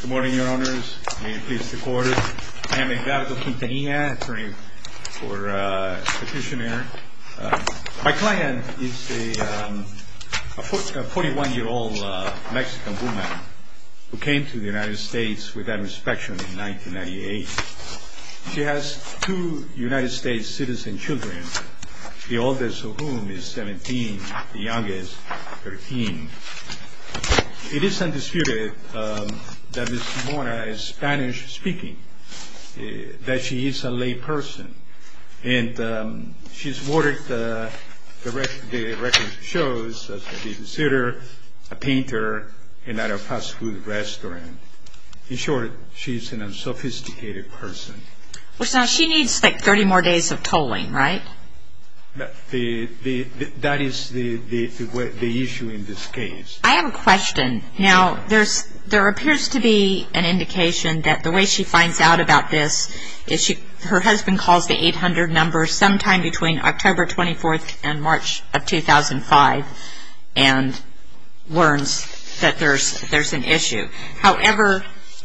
Good morning, your honors. May it please the court. I am Edgardo Quintanilla, attorney for the petitioner. My client is a 41-year-old Mexican woman who came to the United States with that inspection in 1998. She has two United States citizen children, the oldest of whom is 17, the youngest 13. It is undisputed that Ms. Mora is Spanish-speaking, that she is a lay person. And she's watered the record shows that she's a sitter, a painter, and at a fast food restaurant. In short, she's an unsophisticated person. She needs like 30 more days of tolling, right? That is the issue in this case. I have a question. Now, there appears to be an indication that the way she finds out about this is her husband calls the 800 number sometime between October 24th and March of 2005 and learns that there's an issue. However,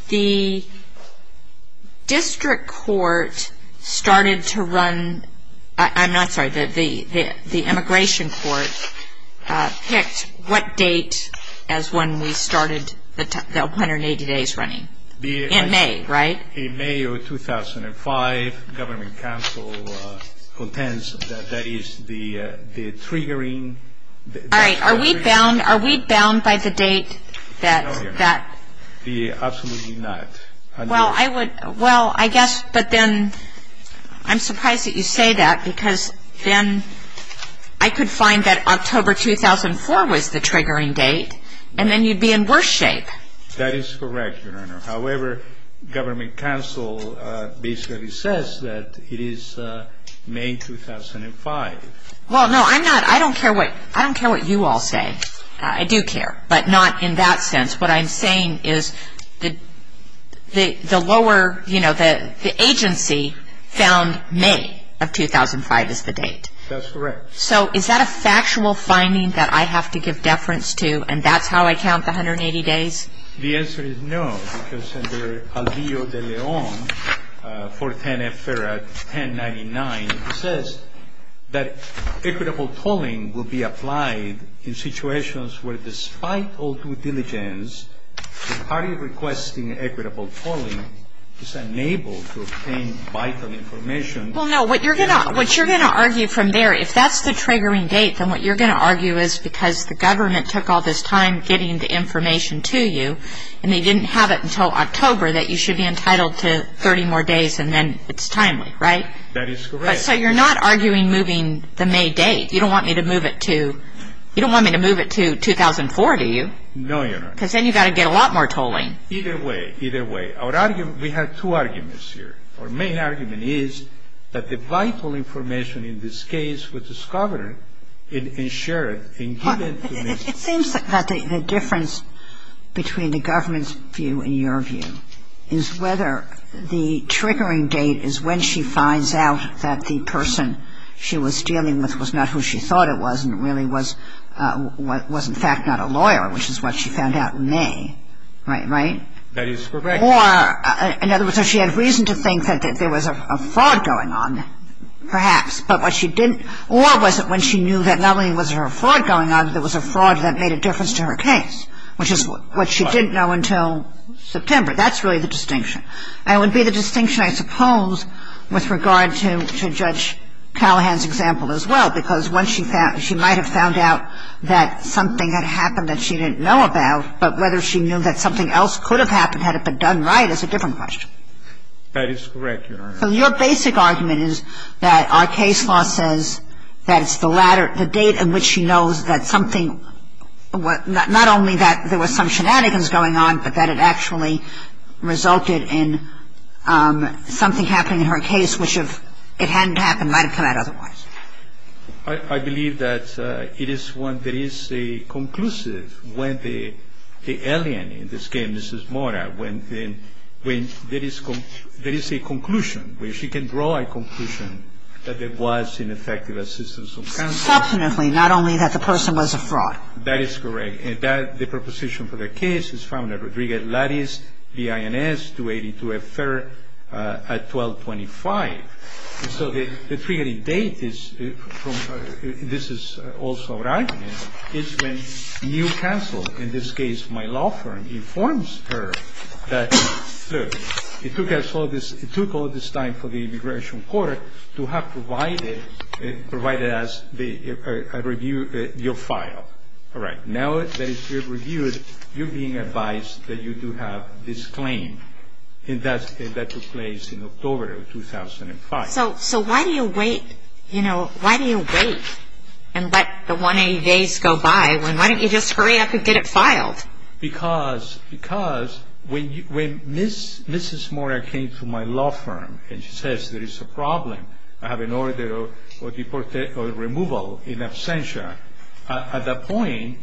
the district court started to run, I'm not sorry, the immigration court picked what date as when we started the 180 days running. In May, right? In May of 2005, government counsel contends that that is the triggering. All right, are we bound by the date that? Absolutely not. Well, I would, well, I guess, but then I'm surprised that you say that because then I could find that October 2004 was the triggering date. And then you'd be in worse shape. That is correct, Your Honor. However, government counsel basically says that it is May 2005. Well, no, I'm not, I don't care what, I don't care what you all say. I do care, but not in that sense. What I'm saying is the lower, you know, the agency found May of 2005 as the date. That's correct. So is that a factual finding that I have to give deference to and that's how I count the 180 days? The answer is no, because Senator Alvillo de Leon, 410 F. Ferret, 1099, says that equitable tolling will be applied in situations where despite all due diligence, the party requesting equitable tolling is unable to obtain vital information. Well, no, what you're going to argue from there, if that's the triggering date, then what you're going to argue is because the government took all this time getting the information to you and they didn't have it until October that you should be entitled to 30 more days and then it's timely, right? That is correct. So you're not arguing moving the May date. You don't want me to move it to 2004, do you? No, Your Honor. Because then you've got to get a lot more tolling. Either way, either way. Our argument, we have two arguments here. Our main argument is that the vital information in this case was discovered and ensured and given to me. It seems that the difference between the government's view and your view is whether the triggering date is when she finds out that the person she was dealing with was not who she thought it was and really was in fact not a lawyer, which is what she found out in May, right? That is correct. Or in other words, so she had reason to think that there was a fraud going on, perhaps. But what she didn't or was it when she knew that not only was there a fraud going on, but there was a fraud that made a difference to her case, which is what she didn't know until September. That's really the distinction. And it would be the distinction, I suppose, with regard to Judge Callahan's example as well, because once she might have found out that something had happened that she didn't know about, but whether she knew that something else could have happened had it been done right is a different question. That is correct, Your Honor. So your basic argument is that our case law says that it's the date in which she knows that something, not only that there was some shenanigans going on, but that it actually resulted in something happening in her case, which if it hadn't happened might have come out otherwise. I believe that it is one that is a conclusive when the alien in this case, Mrs. Mora, when there is a conclusion, where she can draw a conclusion that there was ineffective assistance of counsel. Substantively, not only that the person was a fraud. That is correct. And the preposition for the case is found at Rodriguez-Lattice, B.I.N.S. 282 F. Ferrer at 1225. And so the triggering date, this is also what I mean, is when you counsel, in this case my law firm, informs her that, look, it took all this time for the immigration court to have provided us a review of your file. All right. And now that it's been reviewed, you're being advised that you do have this claim. And that took place in October of 2005. So why do you wait and let the 180 days go by when why don't you just hurry up and get it filed? Because when Mrs. Mora came to my law firm and she says there is a problem, I have an order of removal in absentia. At that point,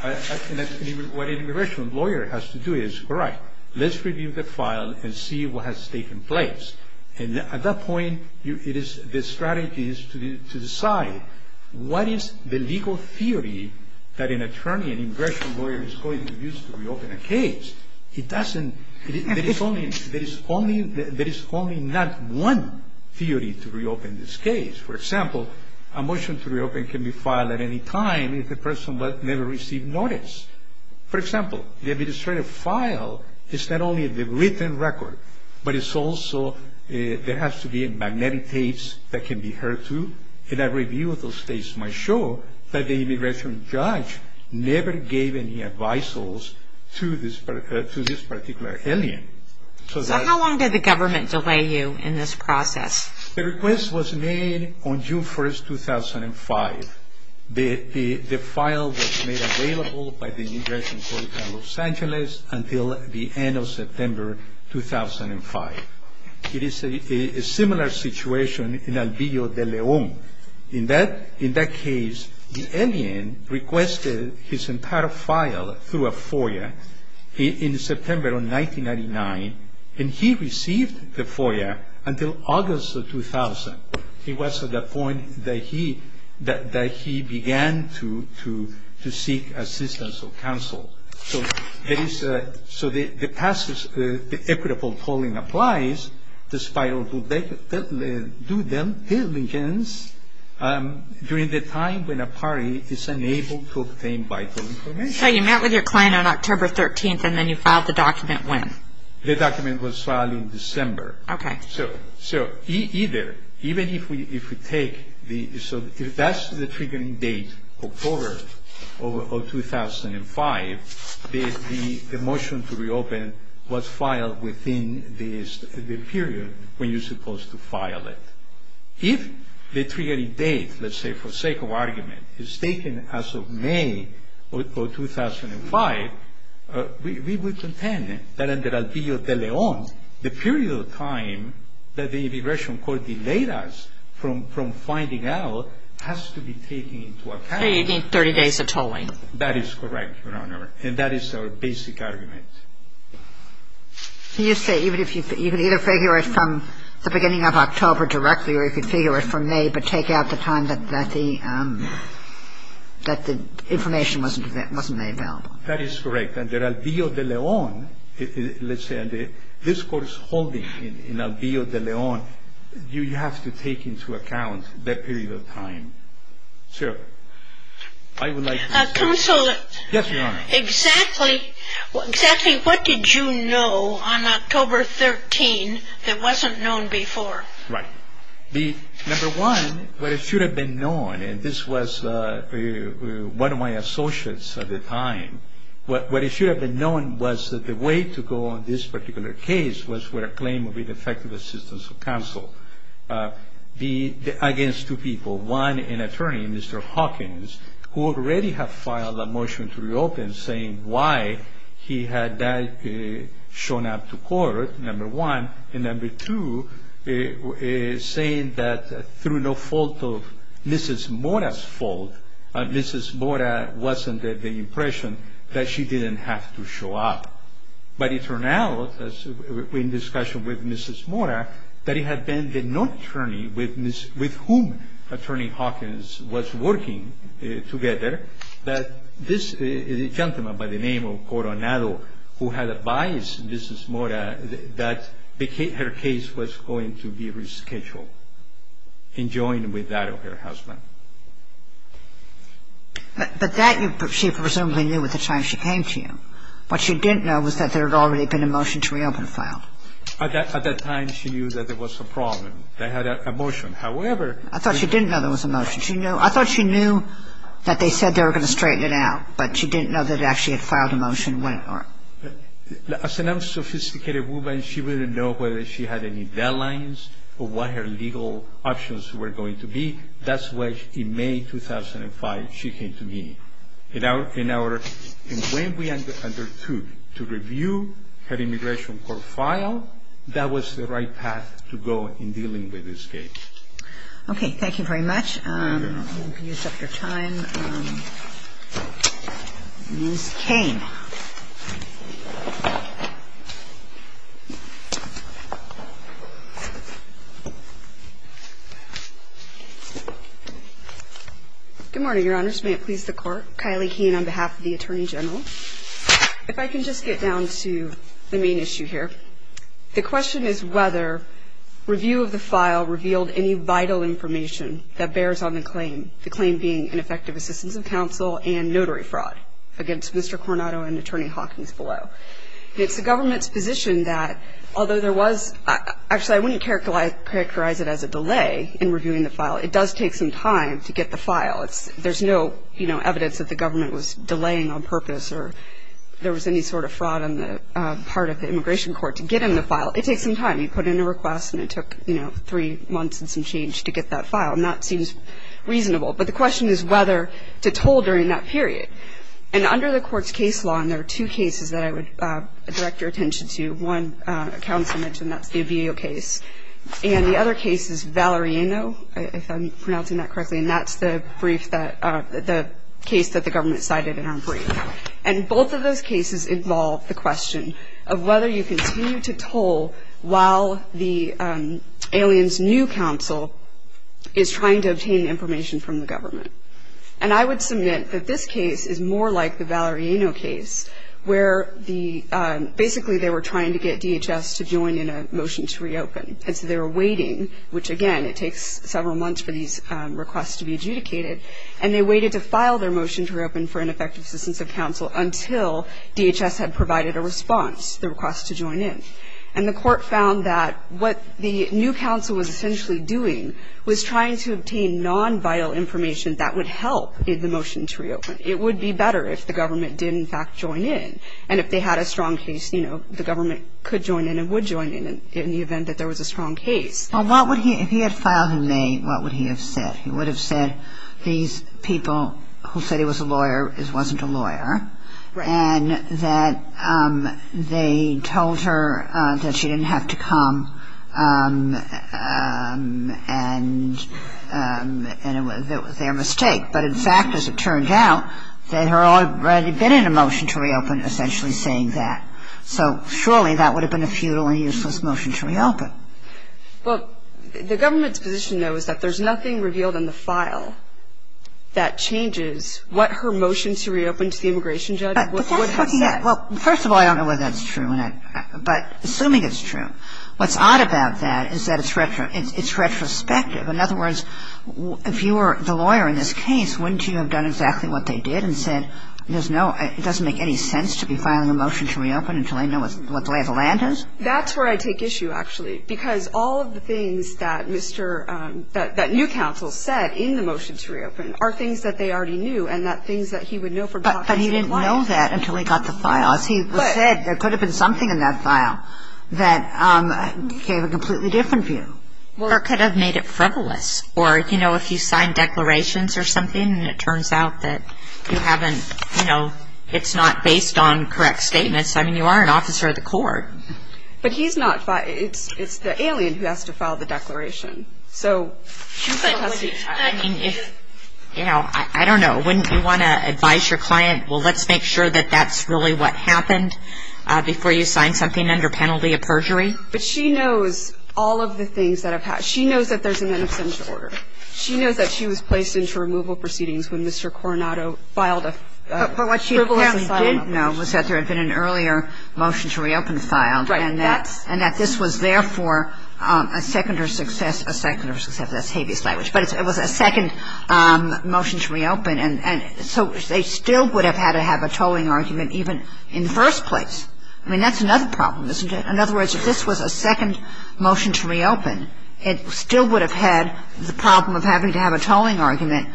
what an immigration lawyer has to do is, all right, let's review the file and see what has taken place. And at that point, the strategy is to decide what is the legal theory that an attorney, an immigration lawyer, is going to use to reopen a case. There is only not one theory to reopen this case. For example, a motion to reopen can be filed at any time if the person never received notice. For example, the administrative file is not only the written record, but it's also, there has to be magnetic tapes that can be heard through, and a review of those tapes might show that the immigration judge never gave any advices to this particular alien. So how long did the government delay you in this process? The request was made on June 1, 2005. The file was made available by the Immigration Court in Los Angeles until the end of September 2005. It is a similar situation in Albillo de León. In that case, the alien requested his entire file through a FOIA in September of 1999, and he received the FOIA until August of 2000. It was at that point that he began to seek assistance or counsel. So the equitable polling applies, despite all due diligence, during the time when a party is unable to obtain vital information. So you met with your client on October 13, and then you filed the document when? The document was filed in December. Okay. So either, even if we take the, so if that's the triggering date, October of 2005, the motion to reopen was filed within the period when you're supposed to file it. If the triggering date, let's say for sake of argument, is taken as of May of 2005, we would contend that under Albillo de León, the period of time that the Immigration Court delayed us from finding out has to be taken into account. So you need 30 days of tolling. That is correct, Your Honor, and that is our basic argument. So you say you could either figure it from the beginning of October directly, or you could figure it from May, but take out the time that the information wasn't made available. That is correct. Under Albillo de León, let's say, and the discourse holding in Albillo de León, you have to take into account that period of time. Sir, I would like to… Counselor. Yes, Your Honor. Exactly what did you know on October 13 that wasn't known before? Right. Number one, what should have been known, and this was one of my associates at the time, what should have been known was that the way to go on this particular case was for a claim of ineffective assistance of counsel against two people. One, an attorney, Mr. Hawkins, who already had filed a motion to reopen saying why he had that shown up to court, number one, and number two, saying that through no fault of Mrs. Mora's fault, Mrs. Mora wasn't the impression that she didn't have to show up. But it turned out, in discussion with Mrs. Mora, that it had been the non-attorney with whom Attorney Hawkins was working together that this gentleman by the name of Coronado, who had advised Mrs. Mora that her case was going to be rescheduled and joined with that of her husband. But that she presumably knew at the time she came to you. What she didn't know was that there had already been a motion to reopen filed. At that time, she knew that there was a problem. They had a motion. However… I thought she didn't know there was a motion. I thought she knew that they said they were going to straighten it out. But she didn't know that it actually had filed a motion. As an unsophisticated woman, she wouldn't know whether she had any deadlines or what her legal options were going to be. That's why in May 2005, she came to me. And when we undertook to review her immigration court file, that was the right path to go in dealing with this case. Okay. Thank you very much. You can use up your time. Ms. Cain. Good morning, Your Honors. May it please the Court. Kylie Cain on behalf of the Attorney General. If I can just get down to the main issue here. The question is whether review of the file revealed any vital information that bears on the claim, the claim being ineffective assistance of counsel and notary fraud against Mr. Coronado and Attorney Hawkins below. It's the government's position that although there was – actually, I wouldn't characterize it as a delay in reviewing the file. It does take some time to get the file. There's no evidence that the government was delaying on purpose or there was any sort of fraud on the part of the immigration court to get in the file. It takes some time. You put in a request and it took, you know, three months and some change to get that file. And that seems reasonable. But the question is whether to toll during that period. And under the court's case law, and there are two cases that I would direct your attention to. One counsel mentioned, that's the Obeo case. And the other case is Valeriano, if I'm pronouncing that correctly. And that's the brief that – the case that the government cited in our brief. And both of those cases involve the question of whether you continue to toll while the alien's new counsel is trying to obtain information from the government. And I would submit that this case is more like the Valeriano case where basically they were trying to get DHS to join in a motion to reopen. And so they were waiting, which, again, it takes several months for these requests to be adjudicated. And they waited to file their motion to reopen for ineffective assistance of counsel until DHS had provided a response, the request to join in. And the court found that what the new counsel was essentially doing was trying to obtain non-vital information that would help the motion to reopen. It would be better if the government did, in fact, join in. And if they had a strong case, you know, the government could join in and would join in in the event that there was a strong case. Well, what would he – if he had filed in May, what would he have said? He would have said these people who said he was a lawyer wasn't a lawyer. And that they told her that she didn't have to come and it was their mistake. But, in fact, as it turned out, they had already been in a motion to reopen essentially saying that. So surely that would have been a futile and useless motion to reopen. Well, the government's position, though, is that there's nothing revealed in the file that changes what her motion to reopen to the immigration judge would have said. Well, first of all, I don't know whether that's true or not. But assuming it's true, what's odd about that is that it's retrospective. In other words, if you were the lawyer in this case, wouldn't you have done exactly what they did and said, there's no – it doesn't make any sense to be filing a motion to reopen until they know what the lay of the land is? That's where I take issue, actually, because all of the things that Mr. – that new counsel said in the motion to reopen are things that they already knew and not things that he would know from talking to the client. But he didn't know that until he got the file. As he said, there could have been something in that file that gave a completely different view. Or it could have made it frivolous. Or, you know, if you sign declarations or something and it turns out that you haven't – you know, it's not based on correct statements, I mean, you are an officer of the court. But he's not – it's the alien who has to file the declaration. So, you know, I don't know. Wouldn't you want to advise your client, well, let's make sure that that's really what happened before you sign something under penalty of perjury? But she knows all of the things that have happened. She knows that there's an in absentia order. She knows that she was placed into removal proceedings when Mr. Coronado filed a frivolous asylum application. But what she apparently didn't know was that there had been an earlier motion to reopen filed and that this was, therefore, a seconder's success, a seconder's success. That's habeas language. But it was a second motion to reopen. And so they still would have had to have a tolling argument even in the first place. I mean, that's another problem, isn't it? In other words, if this was a second motion to reopen, it still would have had the problem of having to have a tolling argument,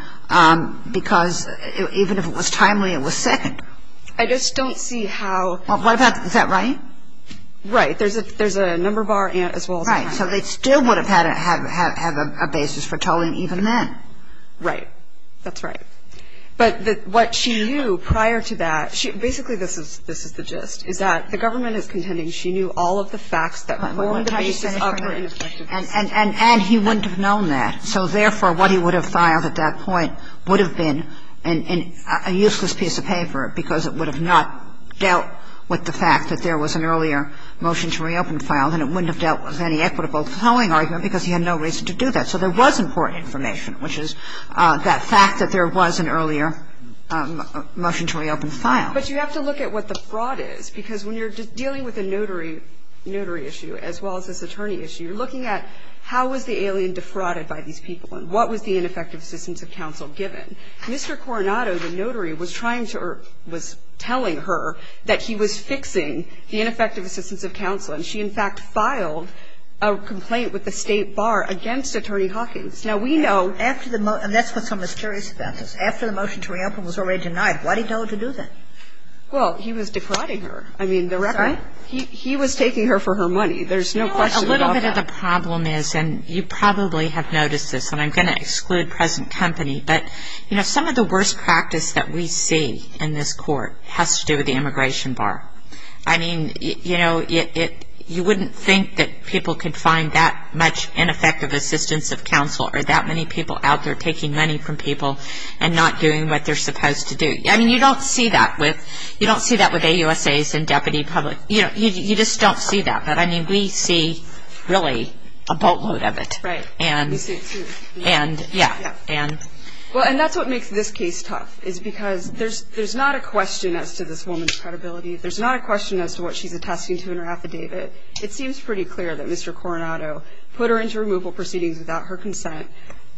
because even if it was timely, it was second. I just don't see how – Is that right? Right. There's a number bar as well as a number. Right. So they still would have had to have a basis for tolling even then. Right. That's right. But what she knew prior to that, basically this is the gist, is that the government is contending she knew all of the facts that formed the basis of her inflection. And he wouldn't have known that. So, therefore, what he would have filed at that point would have been a useless piece of paper because it would have not dealt with the fact that there was an earlier motion to reopen filed, and it wouldn't have dealt with any equitable tolling argument because he had no reason to do that. So there was important information, which is that fact that there was an earlier motion to reopen filed. But you have to look at what the fraud is because when you're dealing with a notary issue as well as this attorney issue, you're looking at how was the alien defrauded by these people and what was the ineffective assistance of counsel given. Mr. Coronado, the notary, was trying to – or was telling her that he was fixing the ineffective assistance of counsel, and she, in fact, filed a complaint with the State Bar against Attorney Hawkins. Now, we know – And that's what's so mysterious about this. After the motion to reopen was already denied, why did he tell her to do that? Well, he was defrauding her. I mean, the record – Sorry? He was taking her for her money. There's no question about that. No, a little bit of the problem is – and you probably have noticed this, and I'm going to exclude present company – but, you know, some of the worst practice that we see in this Court has to do with the immigration bar. I mean, you know, you wouldn't think that people could find that much ineffective assistance of counsel or that many people out there taking money from people and not doing what they're supposed to do. I mean, you don't see that with – you don't see that with AUSAs and deputy public. You just don't see that. But, I mean, we see, really, a boatload of it. Right. And – We see it, too. And, yeah, and – Well, and that's what makes this case tough is because there's not a question as to this woman's credibility. There's not a question as to what she's attesting to in her affidavit. It seems pretty clear that Mr. Coronado put her into removal proceedings without her consent,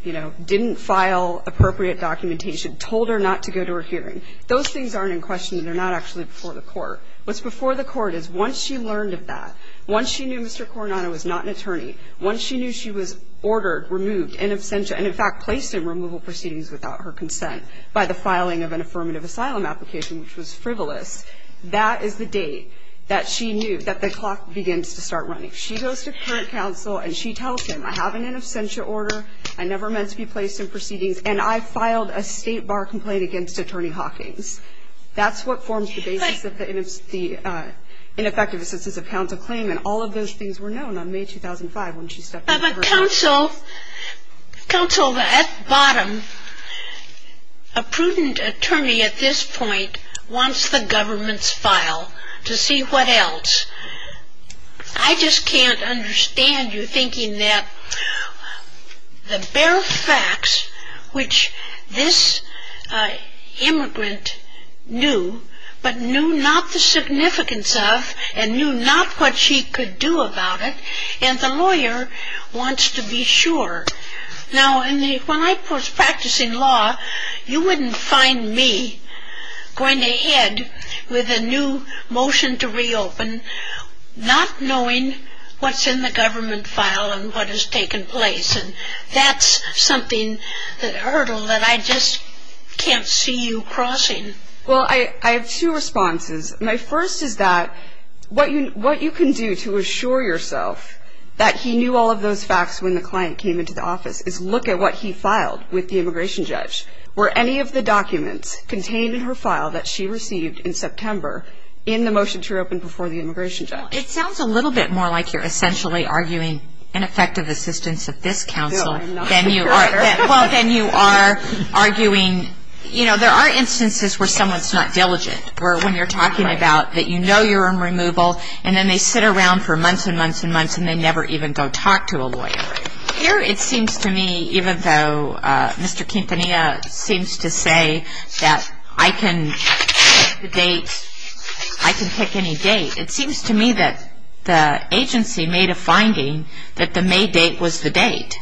you know, didn't file appropriate documentation, told her not to go to her hearing. Those things aren't in question, and they're not actually before the Court. What's before the Court is once she learned of that, once she knew Mr. Coronado was not an attorney, once she knew she was ordered, removed, in absentia, and, in fact, placed in removal proceedings without her consent by the filing of an affirmative asylum application, which was frivolous, that is the date that she knew that the clock begins to start running. She goes to the current counsel, and she tells him, I have an in absentia order, I never meant to be placed in proceedings, and I filed a state bar complaint against Attorney Hawkins. That's what forms the basis of the ineffective assistance of counsel claim, and all of those things were known on May 2005 when she stepped in for – But counsel, counsel, at bottom, a prudent attorney at this point wants the government's file to see what else. I just can't understand you thinking that the bare facts which this immigrant knew, but knew not the significance of, and knew not what she could do about it, and the lawyer wants to be sure. Now, when I was practicing law, you wouldn't find me going ahead with a new motion to reopen not knowing what's in the government file and what has taken place, and that's something, a hurdle that I just can't see you crossing. Well, I have two responses. My first is that what you can do to assure yourself that he knew all of those facts when the client came into the office is look at what he filed with the immigration judge. Were any of the documents contained in her file that she received in September in the motion to reopen before the immigration judge? It sounds a little bit more like you're essentially arguing ineffective assistance of this counsel than you are arguing – you know, there are instances where someone's not diligent, where when you're talking about that you know you're in removal, and then they sit around for months and months and months, and they never even go talk to a lawyer. Here it seems to me, even though Mr. Quintanilla seems to say that I can pick the date, I can pick any date, it seems to me that the agency made a finding that the May date was the date.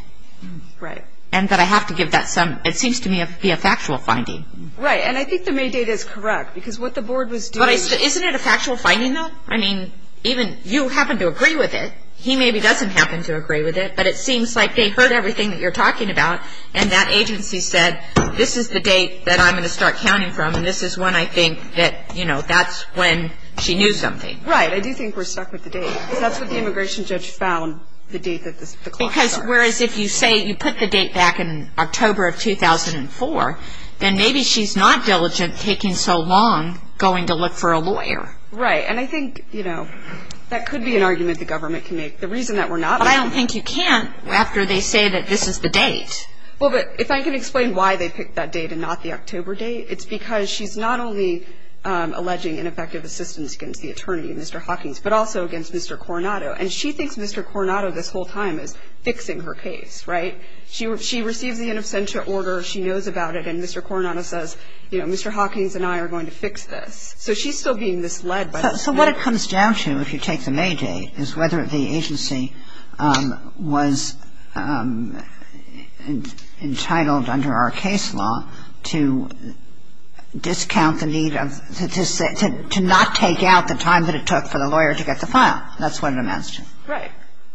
Right. And that I have to give that some – it seems to me to be a factual finding. Right, and I think the May date is correct because what the board was doing – But isn't it a factual finding, though? I mean, even you happen to agree with it. He maybe doesn't happen to agree with it, but it seems like they heard everything that you're talking about, and that agency said this is the date that I'm going to start counting from, and this is when I think that, you know, that's when she knew something. Right. I do think we're stuck with the date. That's what the immigration judge found, the date that the – Because whereas if you say you put the date back in October of 2004, then maybe she's not diligent taking so long going to look for a lawyer. Right. And I think, you know, that could be an argument the government can make. The reason that we're not – But I don't think you can after they say that this is the date. Well, but if I can explain why they picked that date and not the October date, it's because she's not only alleging ineffective assistance against the attorney, Mr. Hawkins, but also against Mr. Coronado. And she thinks Mr. Coronado this whole time is fixing her case. Right? She receives the in absentia order, she knows about it, and Mr. Coronado says, you know, Mr. Hawkins and I are going to fix this. So she's still being misled. So what it comes down to, if you take the May date, is whether the agency was entitled under our case law to discount the need of – to not take out the time that it took for the lawyer to get the file. That's what it amounts to. Right.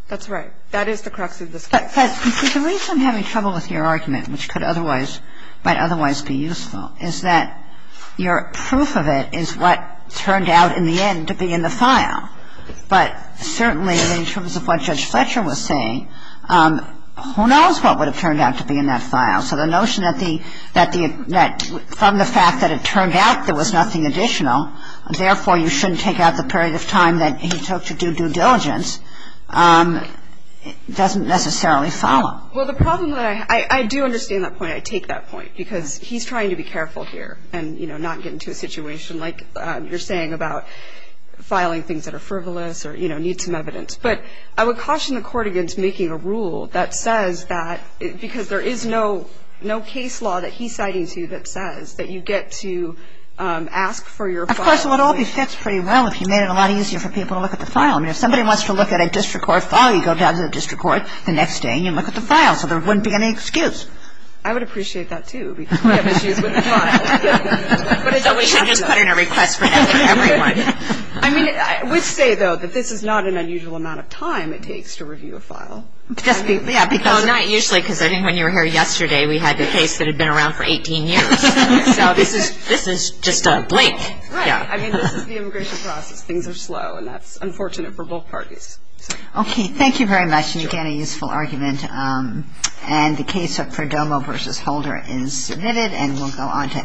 That's right. That is the crux of the case. But the reason I'm having trouble with your argument, which could otherwise – I don't know what's your argument, I don't know what's your argument. I'm just trying to get a sense of what turned out, in the end, to be in the file. But certainly, in terms of what Judge Fletcher was saying, who knows what would have turned out to be in that file. So the notion that the – that the – that from the fact that it turned out there was nothing additional, therefore you shouldn't take out the period of time that he took to do due diligence doesn't necessarily follow. Well, the problem that I – I do understand that point, I take that point, because he's trying to be careful here and, you know, not get into a situation like you're saying about filing things that are frivolous or, you know, need some evidence. But I would caution the Court against making a rule that says that – because there is no case law that he's citing to you that says that you get to ask for your file. Of course, it would all be fixed pretty well if you made it a lot easier for people to look at the file. I mean, if somebody wants to look at a district court file, you go down to the district court the next day and you look at the file, so there wouldn't be any excuse. I would appreciate that, too, because we have issues with the file. So we should just put in a request for that for everyone. I mean, I would say, though, that this is not an unusual amount of time it takes to review a file. Just because – Well, not usually, because I think when you were here yesterday, we had the case that had been around for 18 years. So this is – this is just a blink. Right. I mean, this is the immigration process. Things are slow, and that's unfortunate for both parties. Okay. Thank you very much. And, again, a useful argument. And the case of Perdomo v. Holder is submitted, and we'll go on to Evagion v. Holder.